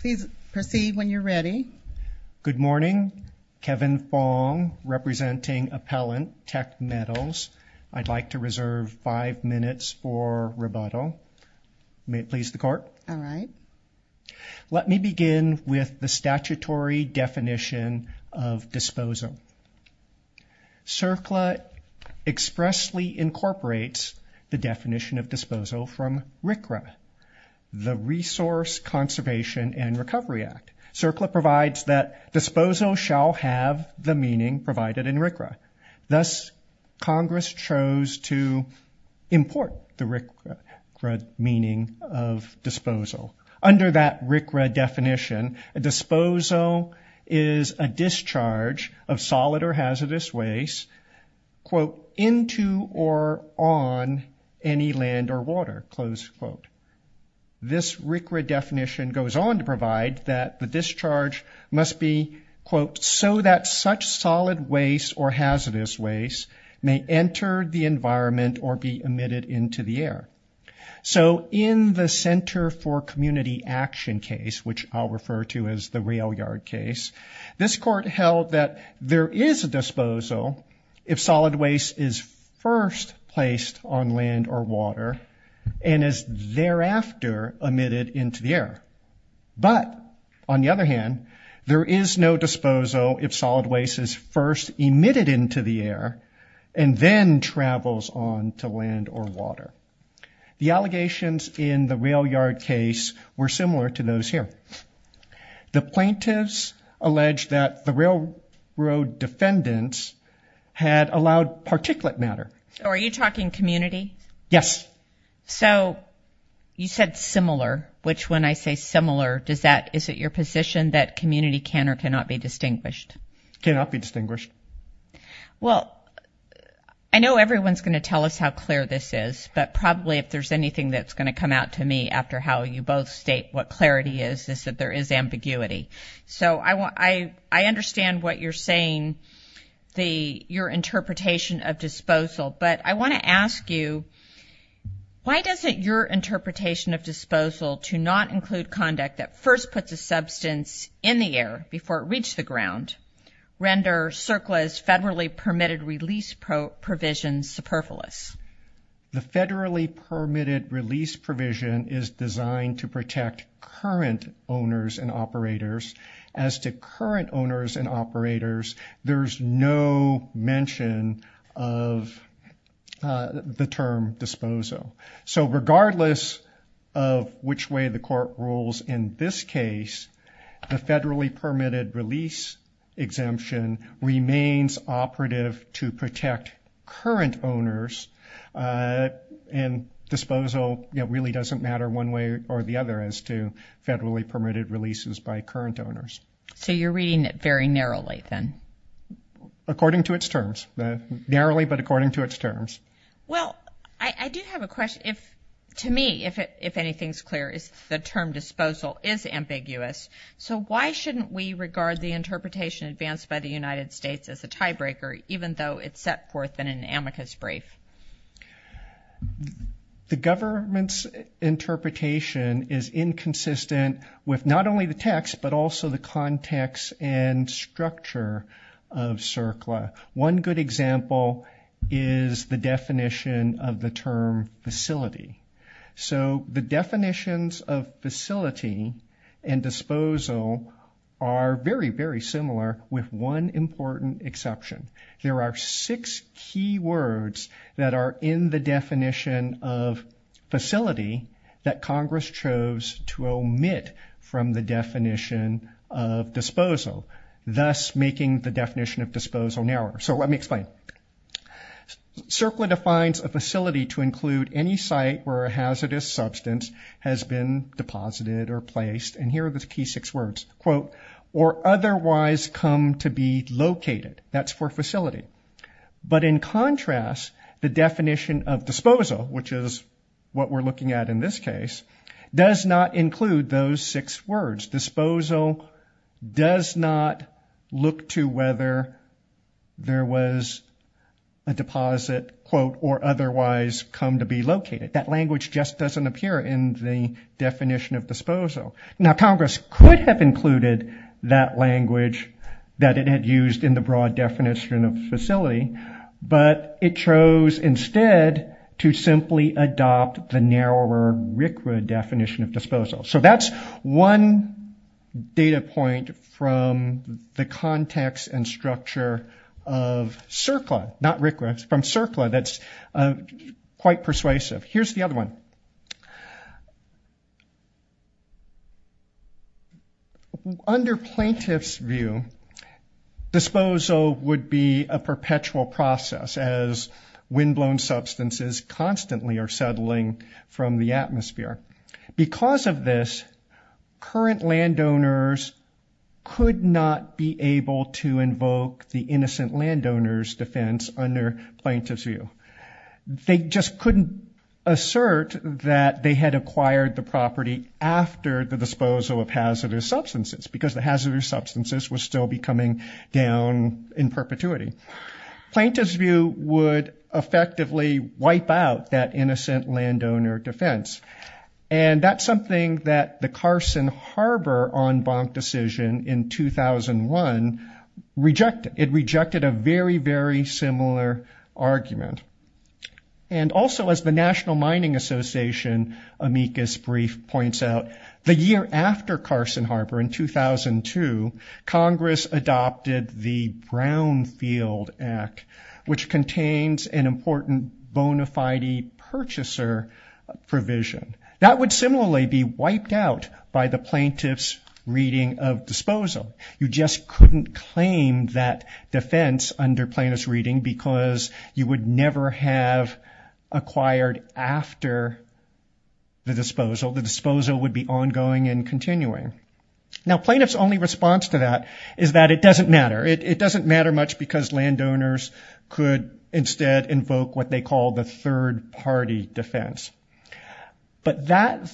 Please proceed when you're ready. Good morning, Kevin Fong representing Appellant Teck Metals. I'd like to reserve five minutes for rebuttal. May it please the court. All right. Let me begin with the statutory definition of disposal. CERCLA expressly incorporates the definition of disposal from RCRA. The Resource Conservation and Recovery Act. CERCLA provides that disposal shall have the meaning provided in RCRA. Thus, Congress chose to import the RCRA meaning of disposal. Under that RCRA definition, a disposal is a discharge of This RCRA definition goes on to provide that the discharge must be, quote, so that such solid waste or hazardous waste may enter the environment or be emitted into the air. So in the Center for Community Action case, which I'll refer to as the rail yard case, this court held that there is a disposal if solid waste is first placed on land or water and is thereafter emitted into the air. But on the other hand, there is no disposal if solid waste is first emitted into the air and then travels on to land or water. The allegations in the rail yard case were similar to those here. The plaintiffs alleged that the railroad defendants had allowed particulate matter. So are you talking community? Yes. So you said similar, which when I say similar, does that, is it your position that community can or cannot be distinguished? Cannot be distinguished. Well, I know everyone's going to tell us how clear this is, but probably if there's anything that's going to come out to me after how you both state what clarity is, is that there is ambiguity. So I want, I understand what you're saying, the, your interpretation of disposal, but I want to ask you, why doesn't your interpretation of disposal to not include conduct that first puts a substance in the air before it reached the ground, render CERCLA's federally permitted release provisions superfluous? The federally permitted release provision is designed to protect current owners and operators. There's no mention of the term disposal. So regardless of which way the court rules in this case, the federally permitted release exemption remains operative to protect current owners. And disposal, you know, really doesn't matter one way or the other as to federally permitted releases by current owners. So you're reading it very narrowly then? According to its terms, narrowly, but according to its terms. Well, I do have a question if, to me, if it, if anything's clear is the term disposal is ambiguous. So why shouldn't we regard the interpretation advanced by the United States as a tiebreaker, even though it's set forth in an amicus brief? The government's interpretation is inconsistent with not only the text, but also the context and structure of CERCLA. One good example is the definition of the term facility. So the definitions of facility and disposal are very, very similar with one important exception. There are six key words that are in the definition of disposal, thus making the definition of disposal narrower. So let me explain. CERCLA defines a facility to include any site where a hazardous substance has been deposited or placed, and here are the key six words, quote, or otherwise come to be located. That's for facility. But in contrast, the definition of disposal, which is what we're looking at in this case, does not include those six words. Disposal does not look to whether there was a deposit, quote, or otherwise come to be located. That language just doesn't appear in the definition of disposal. Now Congress could have included that language that it had used in the broad definition of facility, but it chose instead to simply adopt the narrower RCRA definition of disposal. So that's one data point from the context and structure of CERCLA, not RCRA, from CERCLA that's quite persuasive. Here's the other one. Under plaintiff's view, disposal would be a way of settling from the atmosphere. Because of this, current landowners could not be able to invoke the innocent landowner's defense under plaintiff's view. They just couldn't assert that they had acquired the property after the disposal of hazardous substances, because the hazardous substances would still be coming down in perpetuity. Plaintiff's view would effectively wipe out that innocent landowner defense. And that's something that the Carson Harbor en banc decision in 2001 rejected. It rejected a very, very similar argument. And also as the National Mining Association amicus brief points out, the year after Carson Harbor in 2002, Congress adopted the Brownfield Act, which contains an even richester provision. That would similarly be wiped out by the plaintiff's reading of disposal. You just couldn't claim that defense under plaintiff's reading because you would never have acquired after the disposal. The disposal would be ongoing and continuing. Now plaintiff's only response to that is that it doesn't matter. It doesn't matter much because landowners could instead invoke what they call the third-party defense. But that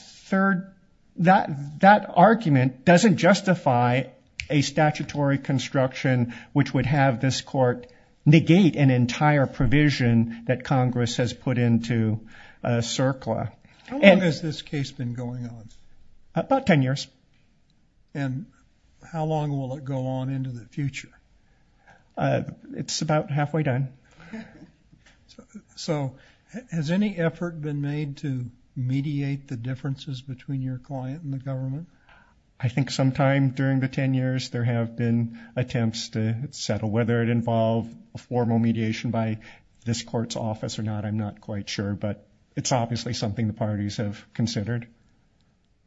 argument doesn't justify a statutory construction which would have this court negate an entire provision that Congress has put into CERCLA. How long has this case been going on? About 10 years. And how long will it go on into the future? It's about halfway done. So has any effort been made to mediate the differences between your client and the government? I think sometime during the 10 years there have been attempts to settle whether it involved a formal mediation by this court's office or not. I'm not quite sure, but it's obviously something the parties have considered.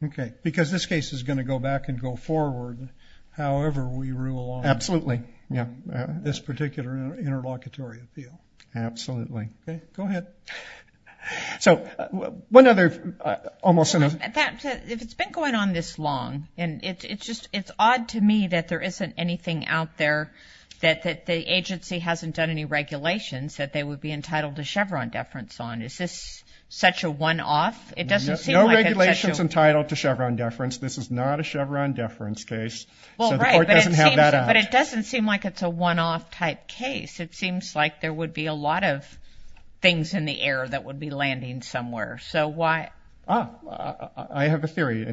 Okay, because this case is going to go back and go forward however we rule on this particular interlocutory appeal. Absolutely. Go ahead. If it's been going on this long, it's odd to me that there isn't anything out there that the agency hasn't done any regulations that they would be entitled to Chevron deference on. Is this such a one-off? No regulation is entitled to Chevron deference. This is not a Chevron deference case. So the court doesn't have that out. But it doesn't seem like it's a one-off type case. It seems like there would be a lot of things in the air that would be landing somewhere. I have a theory.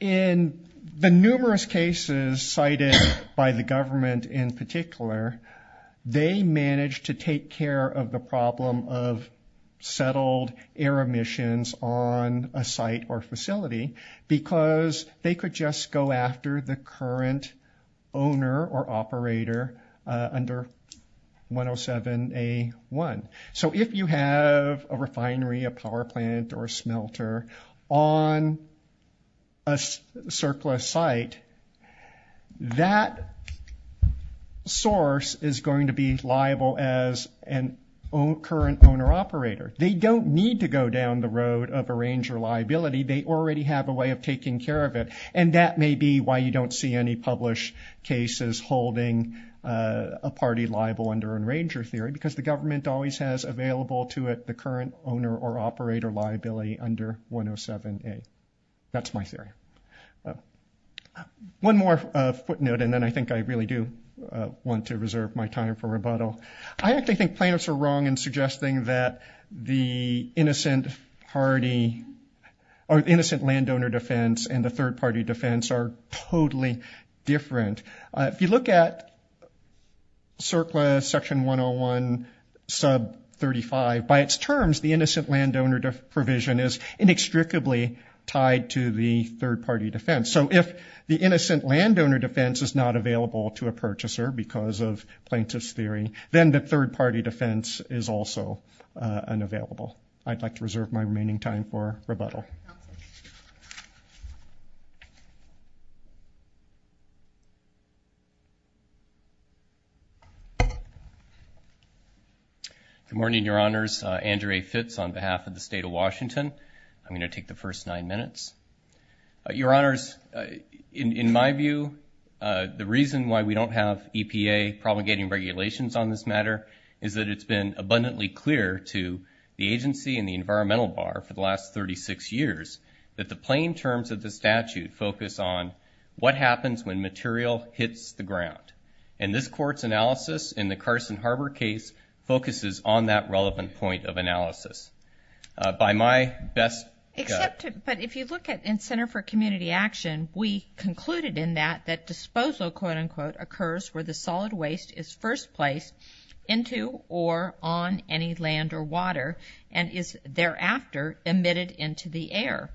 In the numerous cases cited by the government in particular, they managed to take care of the problem of settled air emissions on a site or facility because they could just go after the current owner or operator under 107A1. So if you have a refinery, a power plant, or a smelter on a surplus site, that source is going to be liable as a current owner-operator. They don't need to go down the road of arranger liability. They already have a way of taking care of it. And that may be why you don't see any published cases holding a party liable under arranger theory because the government always has available to it the current owner or operator liability under 107A. That's my theory. One more footnote, and then I think I really do want to reserve my time for rebuttal. I actually think plaintiffs are wrong in suggesting that the innocent party or innocent landowner defense and the third-party defense are totally different. If you look at CERCLA section 101 sub 35, by its terms, the innocent landowner provision is inextricably tied to the third-party defense. So if the innocent landowner defense is not available to a purchaser because of plaintiff's theory, then the third-party defense is also unavailable. I'd like to reserve my remaining time for rebuttal. Good morning, Your Honors. Andrea Fitz on behalf of the State of Washington. I'm going to take the first nine minutes. Your Honors, in my view, the reason why we don't have EPA promulgating regulations on this matter is that it's been abundantly clear to the agency and the environmental bar for the last 36 years that the plain terms of the statute focus on what happens when material hits the ground. And this court's analysis in the Carson Harbor case focuses on that relevant point of analysis. But if you look at in Center for Community Action, we concluded in that that disposal, quote, unquote, occurs where the solid waste is first placed into or on any land or water and is thereafter emitted into the air.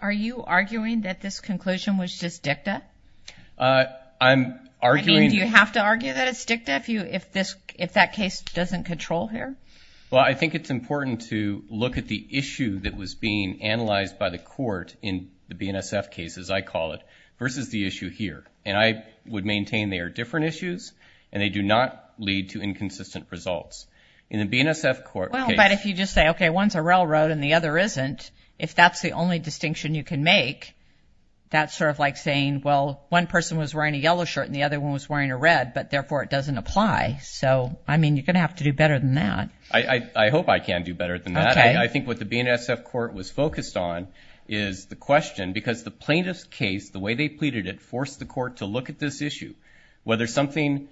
Are you arguing that this conclusion was just dicta? Do you have to argue that it's dicta if that case doesn't control here? Well, I think it's important to look at the issue that was being analyzed by the court in the BNSF case, as I call it, versus the issue here. And I would maintain they are different issues and they do not lead to inconsistent results. In the BNSF court case. Well, but if you just say, okay, one's a railroad and the other isn't, if that's the only distinction you can make, that's sort of like saying, well, one person was wearing a yellow shirt and the other one was wearing a red, but therefore it doesn't apply. So, I mean, you're going to have to do better than that. I hope I can do better than that. I think what the BNSF court was focused on is the question, because the plaintiff's case, the way they pleaded it, forced the court to look at this issue, whether something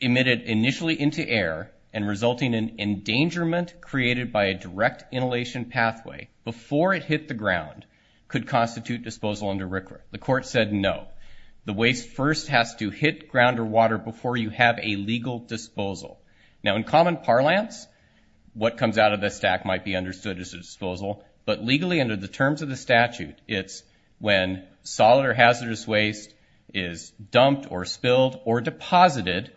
emitted initially into air and resulting in endangerment created by a direct inhalation pathway before it hit the ground could constitute disposal under RCRA. The court said no. The waste first has to hit ground or water before you have a legal disposal. Now, in common parlance, what comes out of the stack might be understood as a disposal, but legally under the terms of the statute, it's when solid or hazardous waste is dumped or spilled or deposited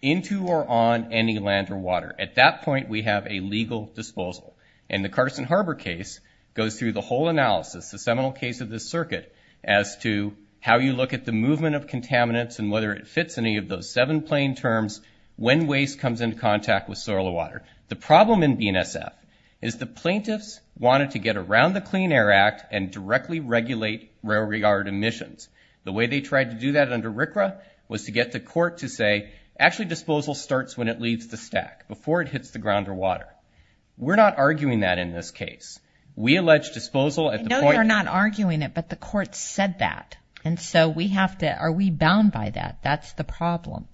into or on any land or water. At that point, we have a legal disposal. And the Carterson Harbor case goes through the whole analysis, the seminal case of this circuit, as to how you look at the movement of contaminants and whether it fits any of those seven plain terms when waste comes into contact with soil or water. The problem in BNSF is the plaintiffs wanted to get around the Clean Air Act and directly regulate railroad emissions. The way they tried to do that under RCRA was to get the court to say, actually disposal starts when it leaves the stack, before it hits the ground or water. We're not arguing that in this case. I know you're not arguing it, but the court said that. And so are we bound by that? That's the problem.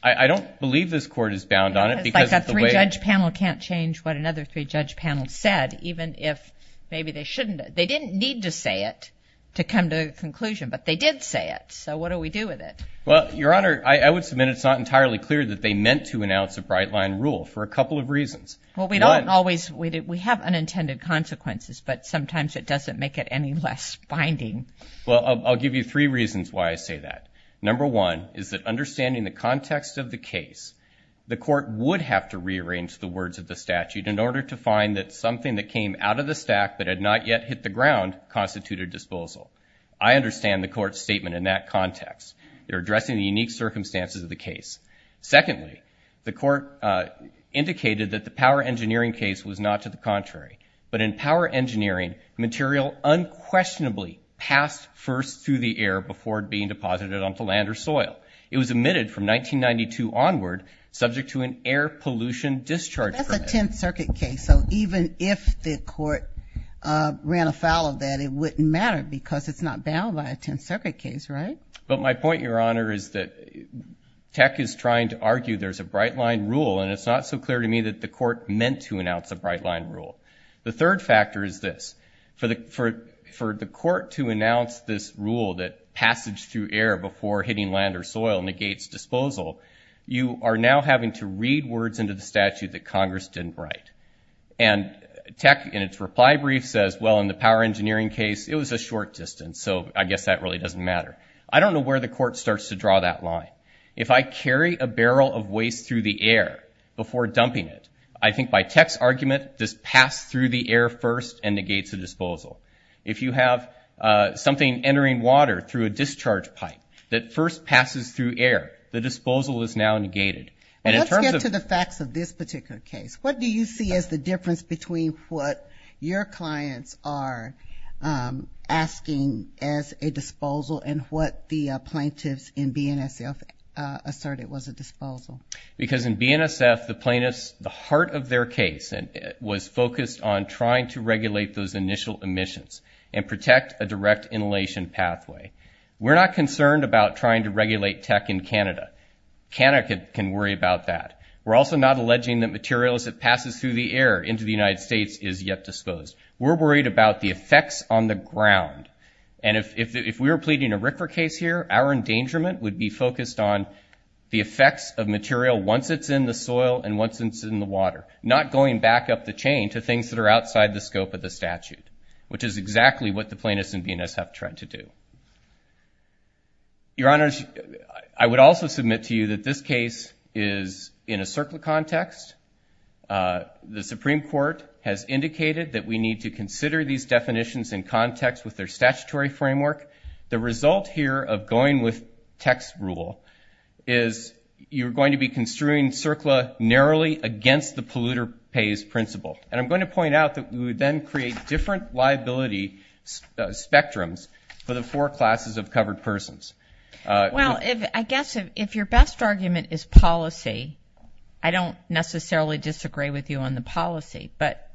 I don't believe this court is bound on it. Because a three-judge panel can't change what another three-judge panel said, even if maybe they shouldn't. They didn't need to say it to come to a conclusion, but they did say it. So what do we do with it? Well, Your Honor, I would submit it's not entirely clear that they meant to announce a bright-line rule, for a couple of reasons. Well, we don't always. We have unintended consequences, but sometimes it doesn't make it any less binding. Well, I'll give you three reasons why I say that. Number one is that understanding the context of the case, the court would have to rearrange the words of the statute in order to find that something that came out of the stack but had not yet hit the ground constituted disposal. I understand the court's statement in that context. They're addressing the unique circumstances of the case. Secondly, the court indicated that the power engineering case was not to the contrary, but in power engineering, material unquestionably passed first through the air before it being deposited onto land or soil. It was emitted from 1992 onward, subject to an air pollution discharge permit. That's a Tenth Circuit case, so even if the court ran afoul of that, it wouldn't matter because it's not bound by a Tenth Circuit case, right? But my point, Your Honor, is that Tech is trying to argue there's a bright-line rule, and it's not so clear to me that the court meant to announce a bright-line rule. The third factor is this. For the court to announce this rule that passage through air before hitting land or soil negates disposal, you are now having to read words into the statute that Congress didn't write. And Tech, in its reply brief, says, well, in the power engineering case, it was a short distance, so I guess that really doesn't matter. I don't know where the court starts to draw that line. If I carry a barrel of waste through the air before dumping it, I think by Tech's argument, this passed through the air first and negates the disposal. If you have something entering water through a discharge pipe that first passes through air, the disposal is now negated. Let's get to the facts of this particular case. What do you see as the difference between what your clients are asking as a disposal and what the plaintiffs in BNSF asserted was a disposal? Because in BNSF, the plaintiffs, the heart of their case was focused on trying to regulate those initial emissions and protect a direct inhalation pathway. We're not concerned about trying to regulate Tech in Canada. Canada can worry about that. We're also not alleging that material as it passes through the air into the United States is yet disposed. We're worried about the effects on the ground. And if we were pleading a RCRA case here, our endangerment would be focused on the effects of material once it's in the soil and once it's in the water, not going back up the chain to things that are outside the scope of the statute, which is exactly what the plaintiffs in BNSF tried to do. Your Honor, I would also submit to you that this case is in a CERCLA context. The Supreme Court has indicated that we need to consider these definitions in context with their statutory framework. The result here of going with Tech's rule is you're going to be construing CERCLA narrowly against the polluter pays principle. And I'm going to point out that we would then create different liability spectrums for the four classes of covered persons. Well, I guess if your best argument is policy, I don't necessarily disagree with you on the policy. But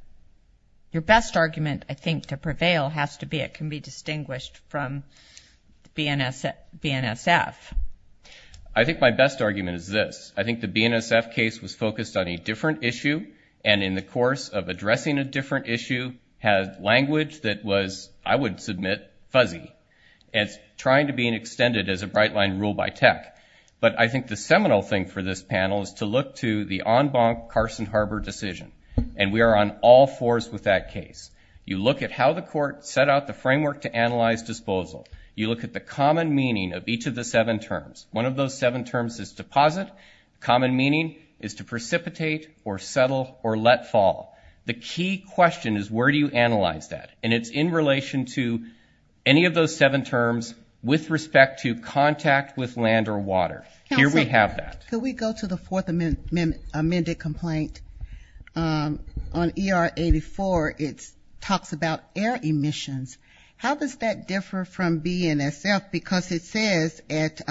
your best argument, I think, to prevail has to be it can be distinguished from BNSF. I think my best argument is this. I think the BNSF case was focused on a different issue, and in the course of addressing a different issue, had language that was, I would submit, fuzzy. It's trying to be extended as a bright line rule by Tech. But I think the seminal thing for this panel is to look to the en banc Carson-Harbor decision. And we are on all fours with that case. You look at how the court set out the framework to analyze disposal. You look at the common meaning of each of the seven terms. One of those seven terms is deposit. Common meaning is to precipitate or settle or let fall. The key question is where do you analyze that? And it's in relation to any of those seven terms with respect to contact with land or water. Here we have that. Can we go to the fourth amended complaint? On ER 84, it talks about air emissions. How does that differ from BNSF? Because it says at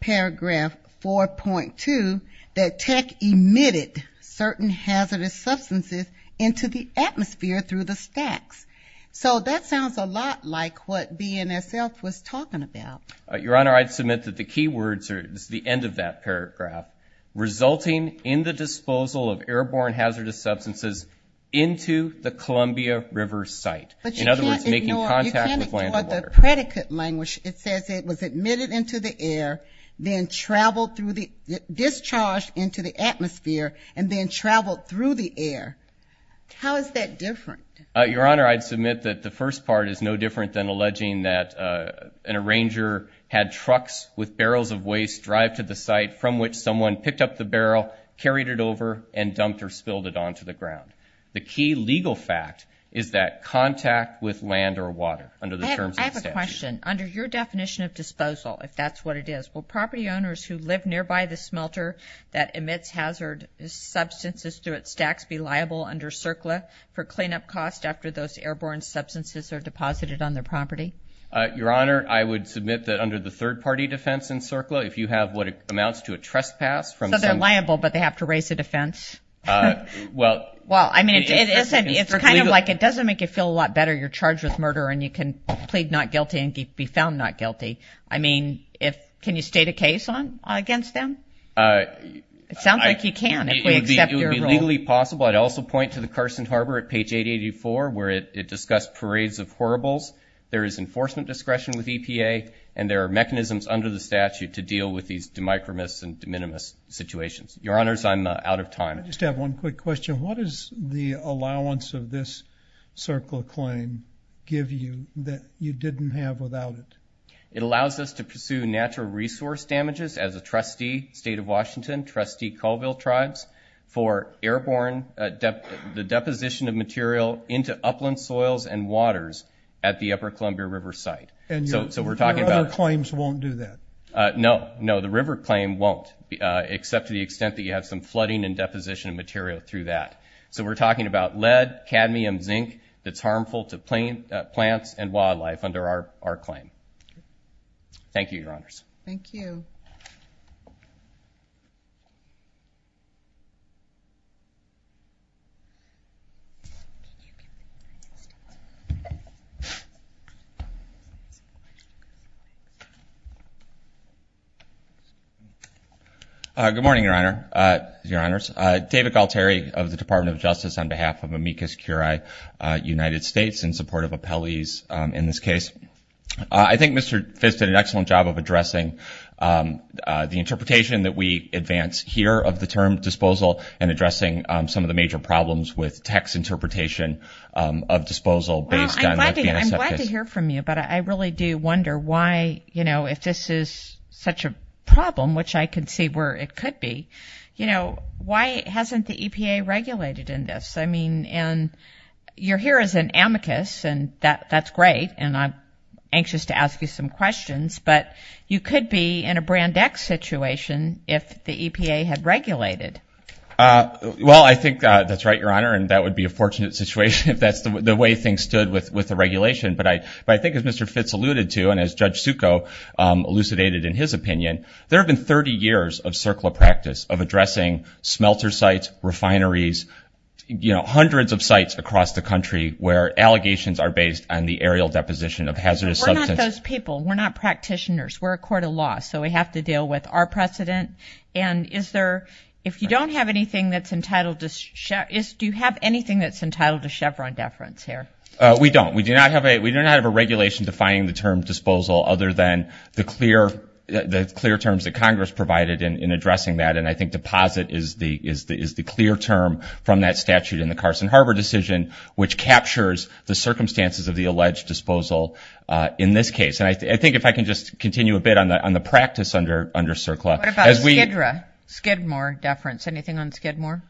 paragraph 4.2 that Tech emitted certain hazardous substances into the atmosphere through the stacks. So that sounds a lot like what BNSF was talking about. Your Honor, I'd submit that the key words are at the end of that paragraph, resulting in the disposal of airborne hazardous substances into the Columbia River site. In other words, making contact with land and water. But you can't ignore the predicate language. It says it was emitted into the air, then traveled through the ‑‑ discharged into the atmosphere, and then traveled through the air. How is that different? Your Honor, I'd submit that the first part is no different than alleging that an arranger had trucks with barrels of waste drive to the site from which someone picked up the barrel, carried it over, and dumped or spilled it onto the ground. The key legal fact is that contact with land or water under the terms of the statute. I have a question. Under your definition of disposal, if that's what it is, will property owners who live nearby the smelter that emits hazardous substances through its stacks be liable under CERCLA for cleanup costs after those airborne substances are deposited on their property? Your Honor, I would submit that under the third-party defense in CERCLA, if you have what amounts to a trespass from some ‑‑ So they're liable, but they have to raise a defense? Well ‑‑ Well, I mean, it's kind of like it doesn't make you feel a lot better. You're charged with murder, and you can plead not guilty and be found not guilty. I mean, can you state a case against them? It sounds like you can, if we accept your rule. It would be legally possible. I'd also point to the Carson Harbor at page 884, where it discussed parades of horribles. There is enforcement discretion with EPA, and there are mechanisms under the statute to deal with these de micromis and de minimis situations. Your Honors, I'm out of time. I just have one quick question. What does the allowance of this CERCLA claim give you that you didn't have without it? It allows us to pursue natural resource damages as a trustee, State of Washington, trustee Colville tribes, for airborne ‑‑ the deposition of material into upland soils and waters at the Upper Columbia River site. And your other claims won't do that? No. No, the river claim won't, except to the extent that you have some flooding and deposition of material through that. So we're talking about lead, cadmium, zinc that's harmful to plants and wildlife under our claim. Thank you, Your Honors. Thank you. Good morning, Your Honors. David Galtieri of the Department of Justice on behalf of amicus curiae United States in support of appellees in this case. I think Mr. Fitts did an excellent job of addressing the interpretation that we advance here of the term disposal and addressing some of the major problems with text interpretation of disposal based on the ‑‑ Well, I'm glad to hear from you, but I really do wonder why, you know, if this is such a problem, which I can see where it could be, you know, why hasn't the EPA regulated in this? I mean, and you're here as an amicus, and that's great, and I'm anxious to ask you some questions, but you could be in a brand X situation if the EPA had regulated. Well, I think that's right, Your Honor, and that would be a fortunate situation if that's the way things stood with the regulation. But I think as Mr. Fitts alluded to and as Judge Succo elucidated in his opinion, there have been 30 years of CERCLA practice of addressing smelter sites, refineries, you know, hundreds of sites across the country where allegations are based on the aerial deposition of hazardous substances. But we're not those people. We're not practitioners. We're a court of law, so we have to deal with our precedent. And is there ‑‑ if you don't have anything that's entitled to ‑‑ do you have anything that's entitled to Chevron deference here? We don't. We do not have a regulation defining the term disposal other than the clear terms that Congress provided in addressing that, and I think deposit is the clear term from that statute in the Carson Harbor decision which captures the circumstances of the alleged disposal in this case. And I think if I can just continue a bit on the practice under CERCLA. What about Skid Row, Skidmore deference? Anything on Skidmore?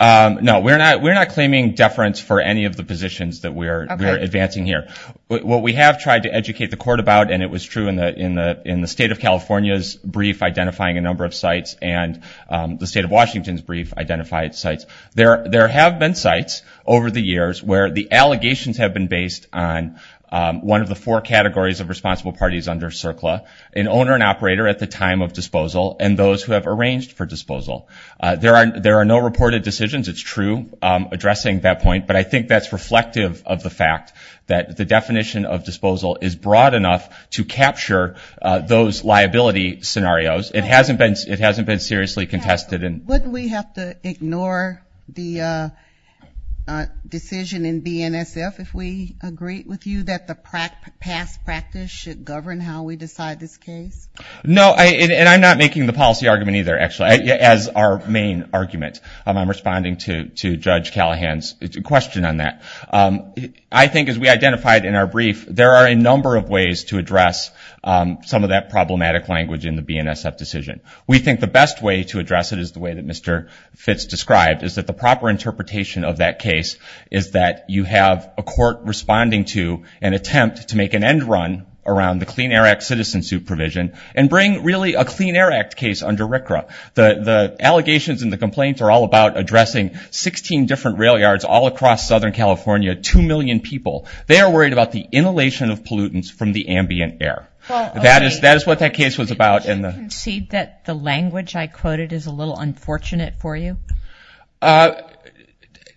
No, we're not claiming deference for any of the positions that we're advancing here. What we have tried to educate the court about, and it was true in the State of California's brief identifying a number of sites and the State of Washington's brief identified sites, there have been sites over the years where the allegations have been based on one of the four categories of responsible parties under CERCLA, an owner and operator at the time of disposal, and those who have arranged for disposal. There are no reported decisions. It's true addressing that point, but I think that's reflective of the fact that the definition of disposal is broad enough to capture those liability scenarios. It hasn't been seriously contested. Wouldn't we have to ignore the decision in BNSF if we agreed with you that the past practice should govern how we decide this case? No, and I'm not making the policy argument either, actually. As our main argument, I'm responding to Judge Callahan's question on that. I think as we identified in our brief, there are a number of ways to address some of that problematic language in the BNSF decision. We think the best way to address it is the way that Mr. Fitz described, is that the proper interpretation of that case is that you have a court responding to an attempt to make an end run around the Clean Air Act citizen supervision and bring really a Clean Air Act case under RCRA. The allegations and the complaints are all about addressing 16 different rail yards all across Southern California, 2 million people. They are worried about the inhalation of pollutants from the ambient air. That is what that case was about. Do you concede that the language I quoted is a little unfortunate for you?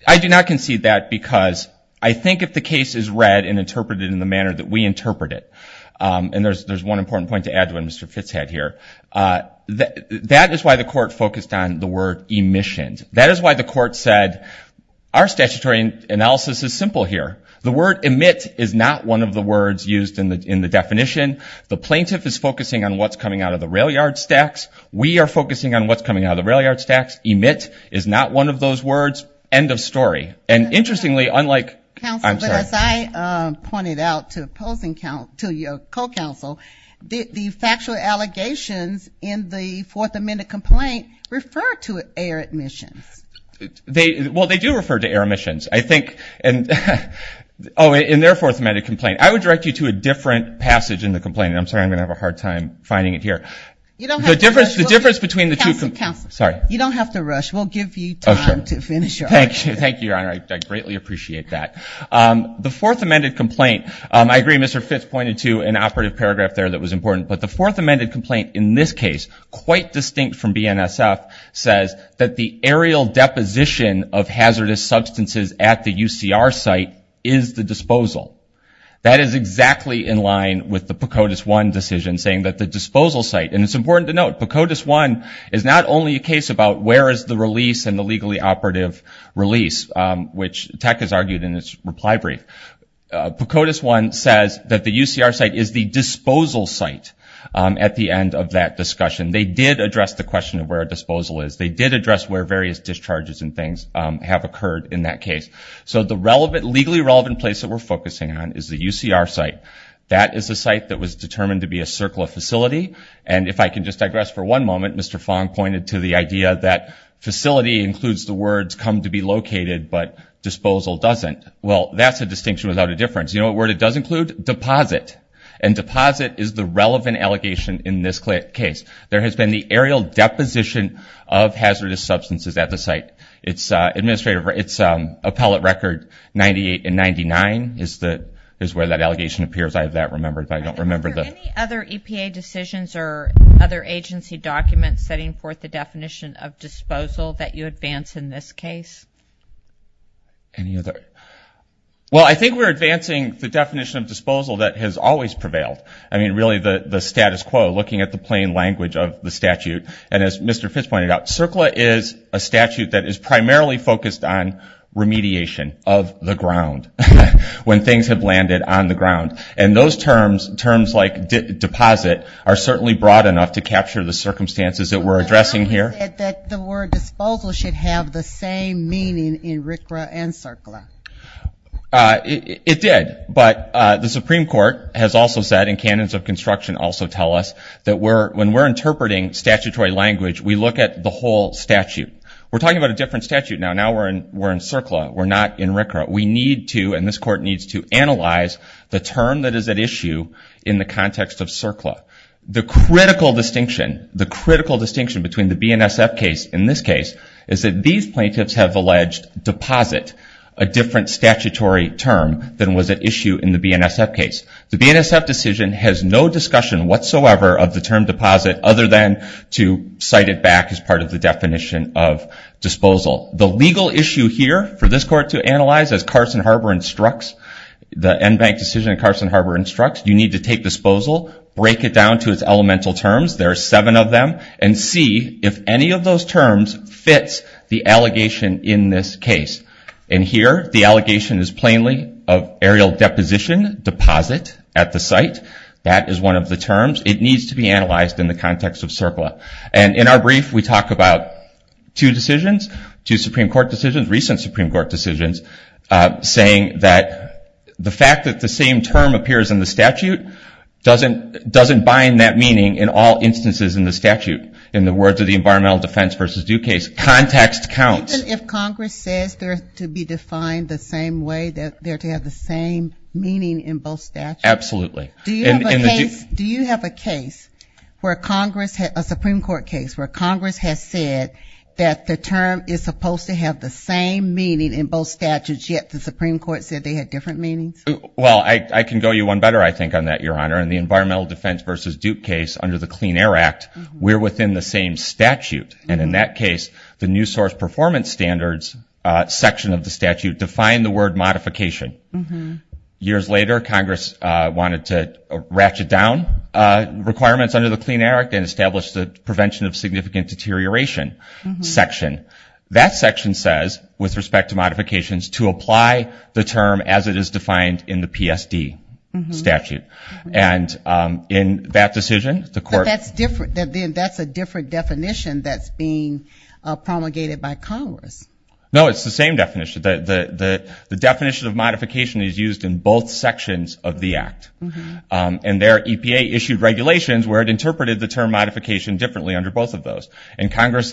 I do not concede that because I think if the case is read and interpreted in the manner that we interpret it, and there's one important point to add to what Mr. Fitz had here, that is why the court focused on the word emissions. That is why the court said our statutory analysis is simple here. The word emit is not one of the words used in the definition. The plaintiff is focusing on what's coming out of the rail yard stacks. We are focusing on what's coming out of the rail yard stacks. Emit is not one of those words. End of story. Counsel, as I pointed out to opposing counsel, to your co-counsel, the factual allegations in the Fourth Amendment complaint refer to air emissions. Well, they do refer to air emissions, I think. Oh, in their Fourth Amendment complaint. I would direct you to a different passage in the complaint. I'm sorry, I'm going to have a hard time finding it here. You don't have to rush. Counsel, you don't have to rush. We'll give you time to finish your argument. Thank you, Your Honor. I greatly appreciate that. The Fourth Amendment complaint, I agree Mr. Fitts pointed to an operative paragraph there that was important, but the Fourth Amendment complaint in this case, quite distinct from BNSF, says that the aerial deposition of hazardous substances at the UCR site is the disposal. That is exactly in line with the PCOTUS 1 decision saying that the disposal site, and it's important to note, PCOTUS 1 is not only a case about where is the release and the legally operative release, which Tech has argued in its reply brief. PCOTUS 1 says that the UCR site is the disposal site at the end of that discussion. They did address the question of where disposal is. They did address where various discharges and things have occurred in that case. So the legally relevant place that we're focusing on is the UCR site. That is a site that was determined to be a circle of facility, and if I can just digress for one moment, Mr. Fong pointed to the idea that facility includes the words come to be located, but disposal doesn't. Well, that's a distinction without a difference. You know what word it does include? Deposit. And deposit is the relevant allegation in this case. There has been the aerial deposition of hazardous substances at the site. It's appellate record 98 and 99 is where that allegation appears. I have that remembered, but I don't remember the- Any other questions or other agency documents setting forth the definition of disposal that you advance in this case? Any other? Well, I think we're advancing the definition of disposal that has always prevailed. I mean, really the status quo, looking at the plain language of the statute. And as Mr. Fitz pointed out, CERCLA is a statute that is primarily focused on remediation of the ground, when things have landed on the ground. And those terms, terms like deposit, are certainly broad enough to capture the circumstances that we're addressing here. But the document said that the word disposal should have the same meaning in RCRA and CERCLA. It did. But the Supreme Court has also said, and canons of construction also tell us, that when we're interpreting statutory language, we look at the whole statute. We're talking about a different statute now. Now we're in CERCLA. We're not in RCRA. We need to, and this Court needs to, analyze the term that is at issue in the context of CERCLA. The critical distinction, the critical distinction between the BNSF case and this case is that these plaintiffs have alleged deposit, a different statutory term than was at issue in the BNSF case. The BNSF decision has no discussion whatsoever of the term deposit, other than to cite it back as part of the definition of disposal. The legal issue here for this Court to analyze, as Carson Harbor instructs, the NBank decision in Carson Harbor instructs, you need to take disposal, break it down to its elemental terms, there are seven of them, and see if any of those terms fits the allegation in this case. And here, the allegation is plainly of aerial deposition, deposit at the site. That is one of the terms. It needs to be analyzed in the context of CERCLA. And in our brief, we talk about two decisions, two Supreme Court decisions, recent Supreme Court decisions, saying that the fact that the same term appears in the statute doesn't bind that meaning in all instances in the statute. In the words of the Environmental Defense v. Due Case, context counts. Even if Congress says they're to be defined the same way, that they're to have the same meaning in both statutes? Absolutely. Do you have a case where Congress, a Supreme Court case, where Congress has said that the term is supposed to have the same meaning in both statutes, yet the Supreme Court said they had different meanings? Well, I can go you one better, I think, on that, Your Honor. In the Environmental Defense v. Due Case under the Clean Air Act, we're within the same statute. And in that case, the new source performance standards section of the statute defined the word modification. Years later, Congress wanted to ratchet down requirements under the Clean Air Act and establish the Prevention of Significant Deterioration section. That section says, with respect to modifications, to apply the term as it is defined in the PSD statute. And in that decision, the court ---- But then that's a different definition that's being promulgated by Congress. No, it's the same definition. The definition of modification is used in both sections of the act. And their EPA issued regulations where it interpreted the term modification differently under both of those. And Congress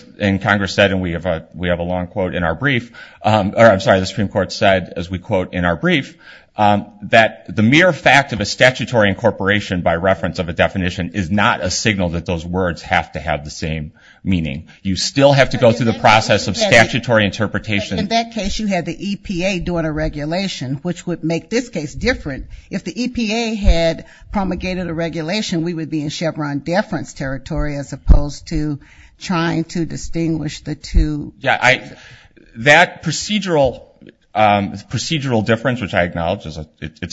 said, and we have a long quote in our brief, or I'm sorry, the Supreme Court said, as we quote in our brief, that the mere fact of a statutory incorporation by reference of a definition is not a signal that those words have to have the same meaning. You still have to go through the process of statutory interpretation. In that case, you had the EPA doing a regulation, which would make this case different. If the EPA had promulgated a regulation, we would be in Chevron deference territory as opposed to trying to distinguish the two. That procedural difference, which I acknowledge is a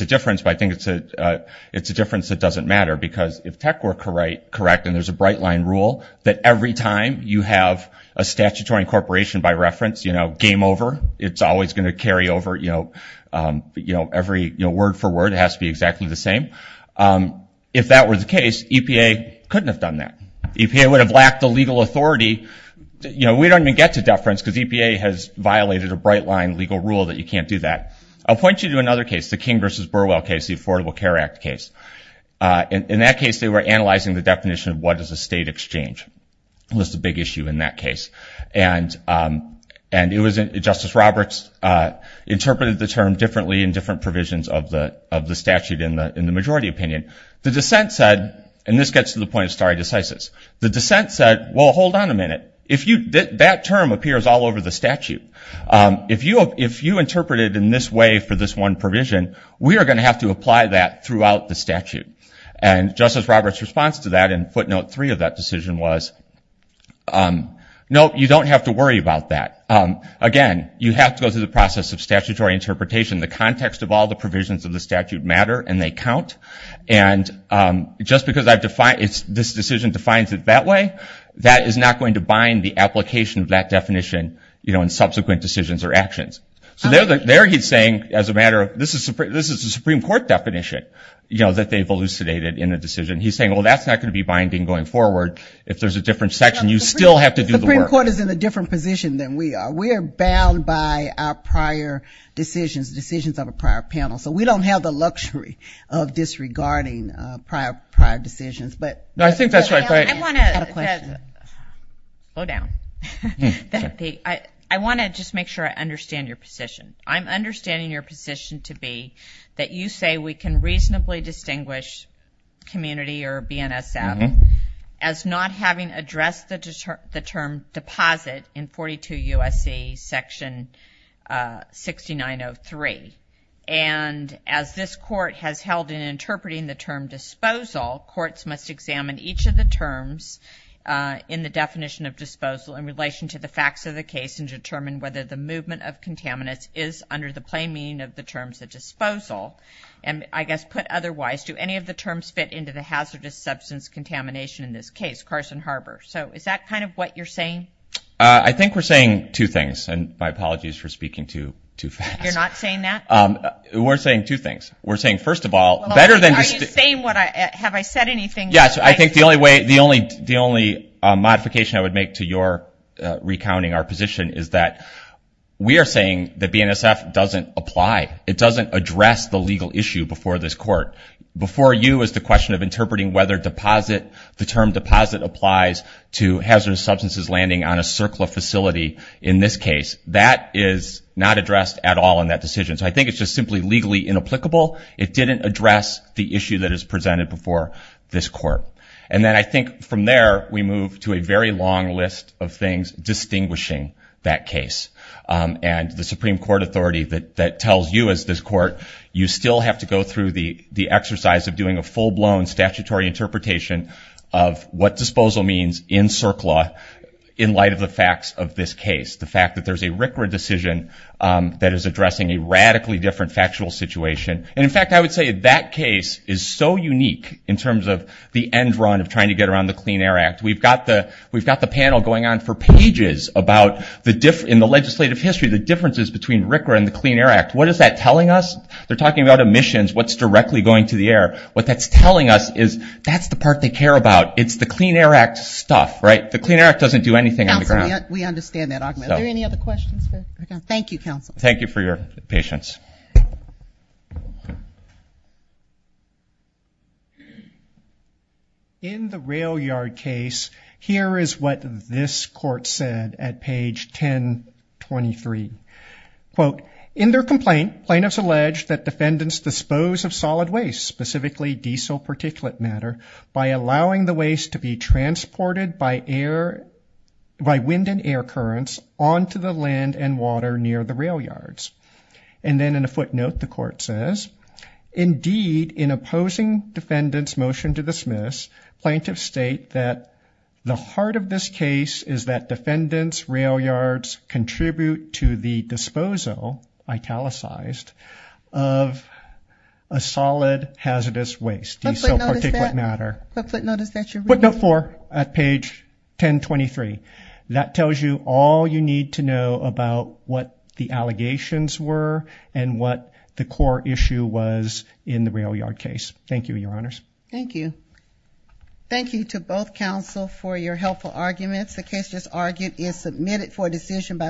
difference, but I think it's a difference that doesn't matter. Because if tech were correct, and there's a bright line rule, that every time you have a statutory incorporation by reference, game over, it's always going to carry over. Every word for word has to be exactly the same. If that were the case, EPA couldn't have done that. EPA would have lacked the legal authority. We don't even get to deference because EPA has violated a bright line legal rule that you can't do that. I'll point you to another case, the King v. Burwell case, the Affordable Care Act case. In that case, they were analyzing the definition of what is a state exchange. It was a big issue in that case. Justice Roberts interpreted the term differently in different provisions of the statute in the majority opinion. The dissent said, and this gets to the point of stare decisis, the dissent said, well, hold on a minute. That term appears all over the statute. If you interpret it in this way for this one provision, we are going to have to apply that throughout the statute. Justice Roberts' response to that in footnote three of that decision was, no, you don't have to worry about that. Again, you have to go through the process of statutory interpretation. The context of all the provisions of the statute matter and they count. Just because this decision defines it that way, that is not going to bind the application of that definition in subsequent decisions or actions. So there he's saying, as a matter of, this is the Supreme Court definition, you know, that they've elucidated in the decision. He's saying, well, that's not going to be binding going forward. If there's a different section, you still have to do the work. The Supreme Court is in a different position than we are. We are bound by our prior decisions, decisions of a prior panel. So we don't have the luxury of disregarding prior decisions. I think that's right. I want to just make sure I understand your question. I'm understanding your position to be that you say we can reasonably distinguish community or BNSF as not having addressed the term deposit in 42 U.S.C. section 6903. And as this court has held in interpreting the term disposal, courts must examine each of the terms in the definition of disposal in relation to the facts of the case and determine whether the movement of contaminants is under the plain meaning of the terms of disposal. And I guess put otherwise, do any of the terms fit into the hazardous substance contamination in this case, Carson Harbor? So is that kind of what you're saying? I think we're saying two things. And my apologies for speaking too fast. You're not saying that? We're saying two things. We're saying, first of all, better than just the – Are you saying what I – have I said anything? Yes, I think the only way – the only modification I would make to your recounting our position is that we are saying that BNSF doesn't apply. It doesn't address the legal issue before this court. Before you is the question of interpreting whether deposit, the term deposit applies to hazardous substances landing on a circle of facility. In this case, that is not addressed at all in that decision. So I think it's just simply legally inapplicable. It didn't address the issue that is presented before this court. And then I think from there we move to a very long list of things distinguishing that case. And the Supreme Court authority that tells you as this court, you still have to go through the exercise of doing a full-blown statutory interpretation of what disposal means in CERC law in light of the facts of this case. The fact that there's a RCRA decision that is addressing a radically different factual situation. And, in fact, I would say that case is so unique in terms of the end run of trying to get around the Clean Air Act. We've got the panel going on for pages in the legislative history, the differences between RCRA and the Clean Air Act. What is that telling us? They're talking about emissions, what's directly going to the air. What that's telling us is that's the part they care about. It's the Clean Air Act stuff, right? The Clean Air Act doesn't do anything on the ground. We understand that argument. Are there any other questions? Thank you, counsel. Thank you for your patience. In the rail yard case, here is what this court said at page 1023. Quote, in their complaint, plaintiffs allege that defendants dispose of solid waste, specifically diesel particulate matter, by allowing the waste to be transported by air, by wind and air currents, onto the land and water near the rail yards. And then in a footnote, the court says, indeed, in opposing defendant's motion to dismiss, plaintiffs state that the heart of this case is that defendants' rail yards contribute to the disposal, italicized, of a solid hazardous waste, diesel particulate matter. Footnote is that you're reading? Footnote four at page 1023. That tells you all you need to know about what the allegations were and what the core issue was in the rail yard case. Thank you, your honors. Thank you. Thank you to both counsel for your helpful arguments. The case just argued is submitted for decision by the court.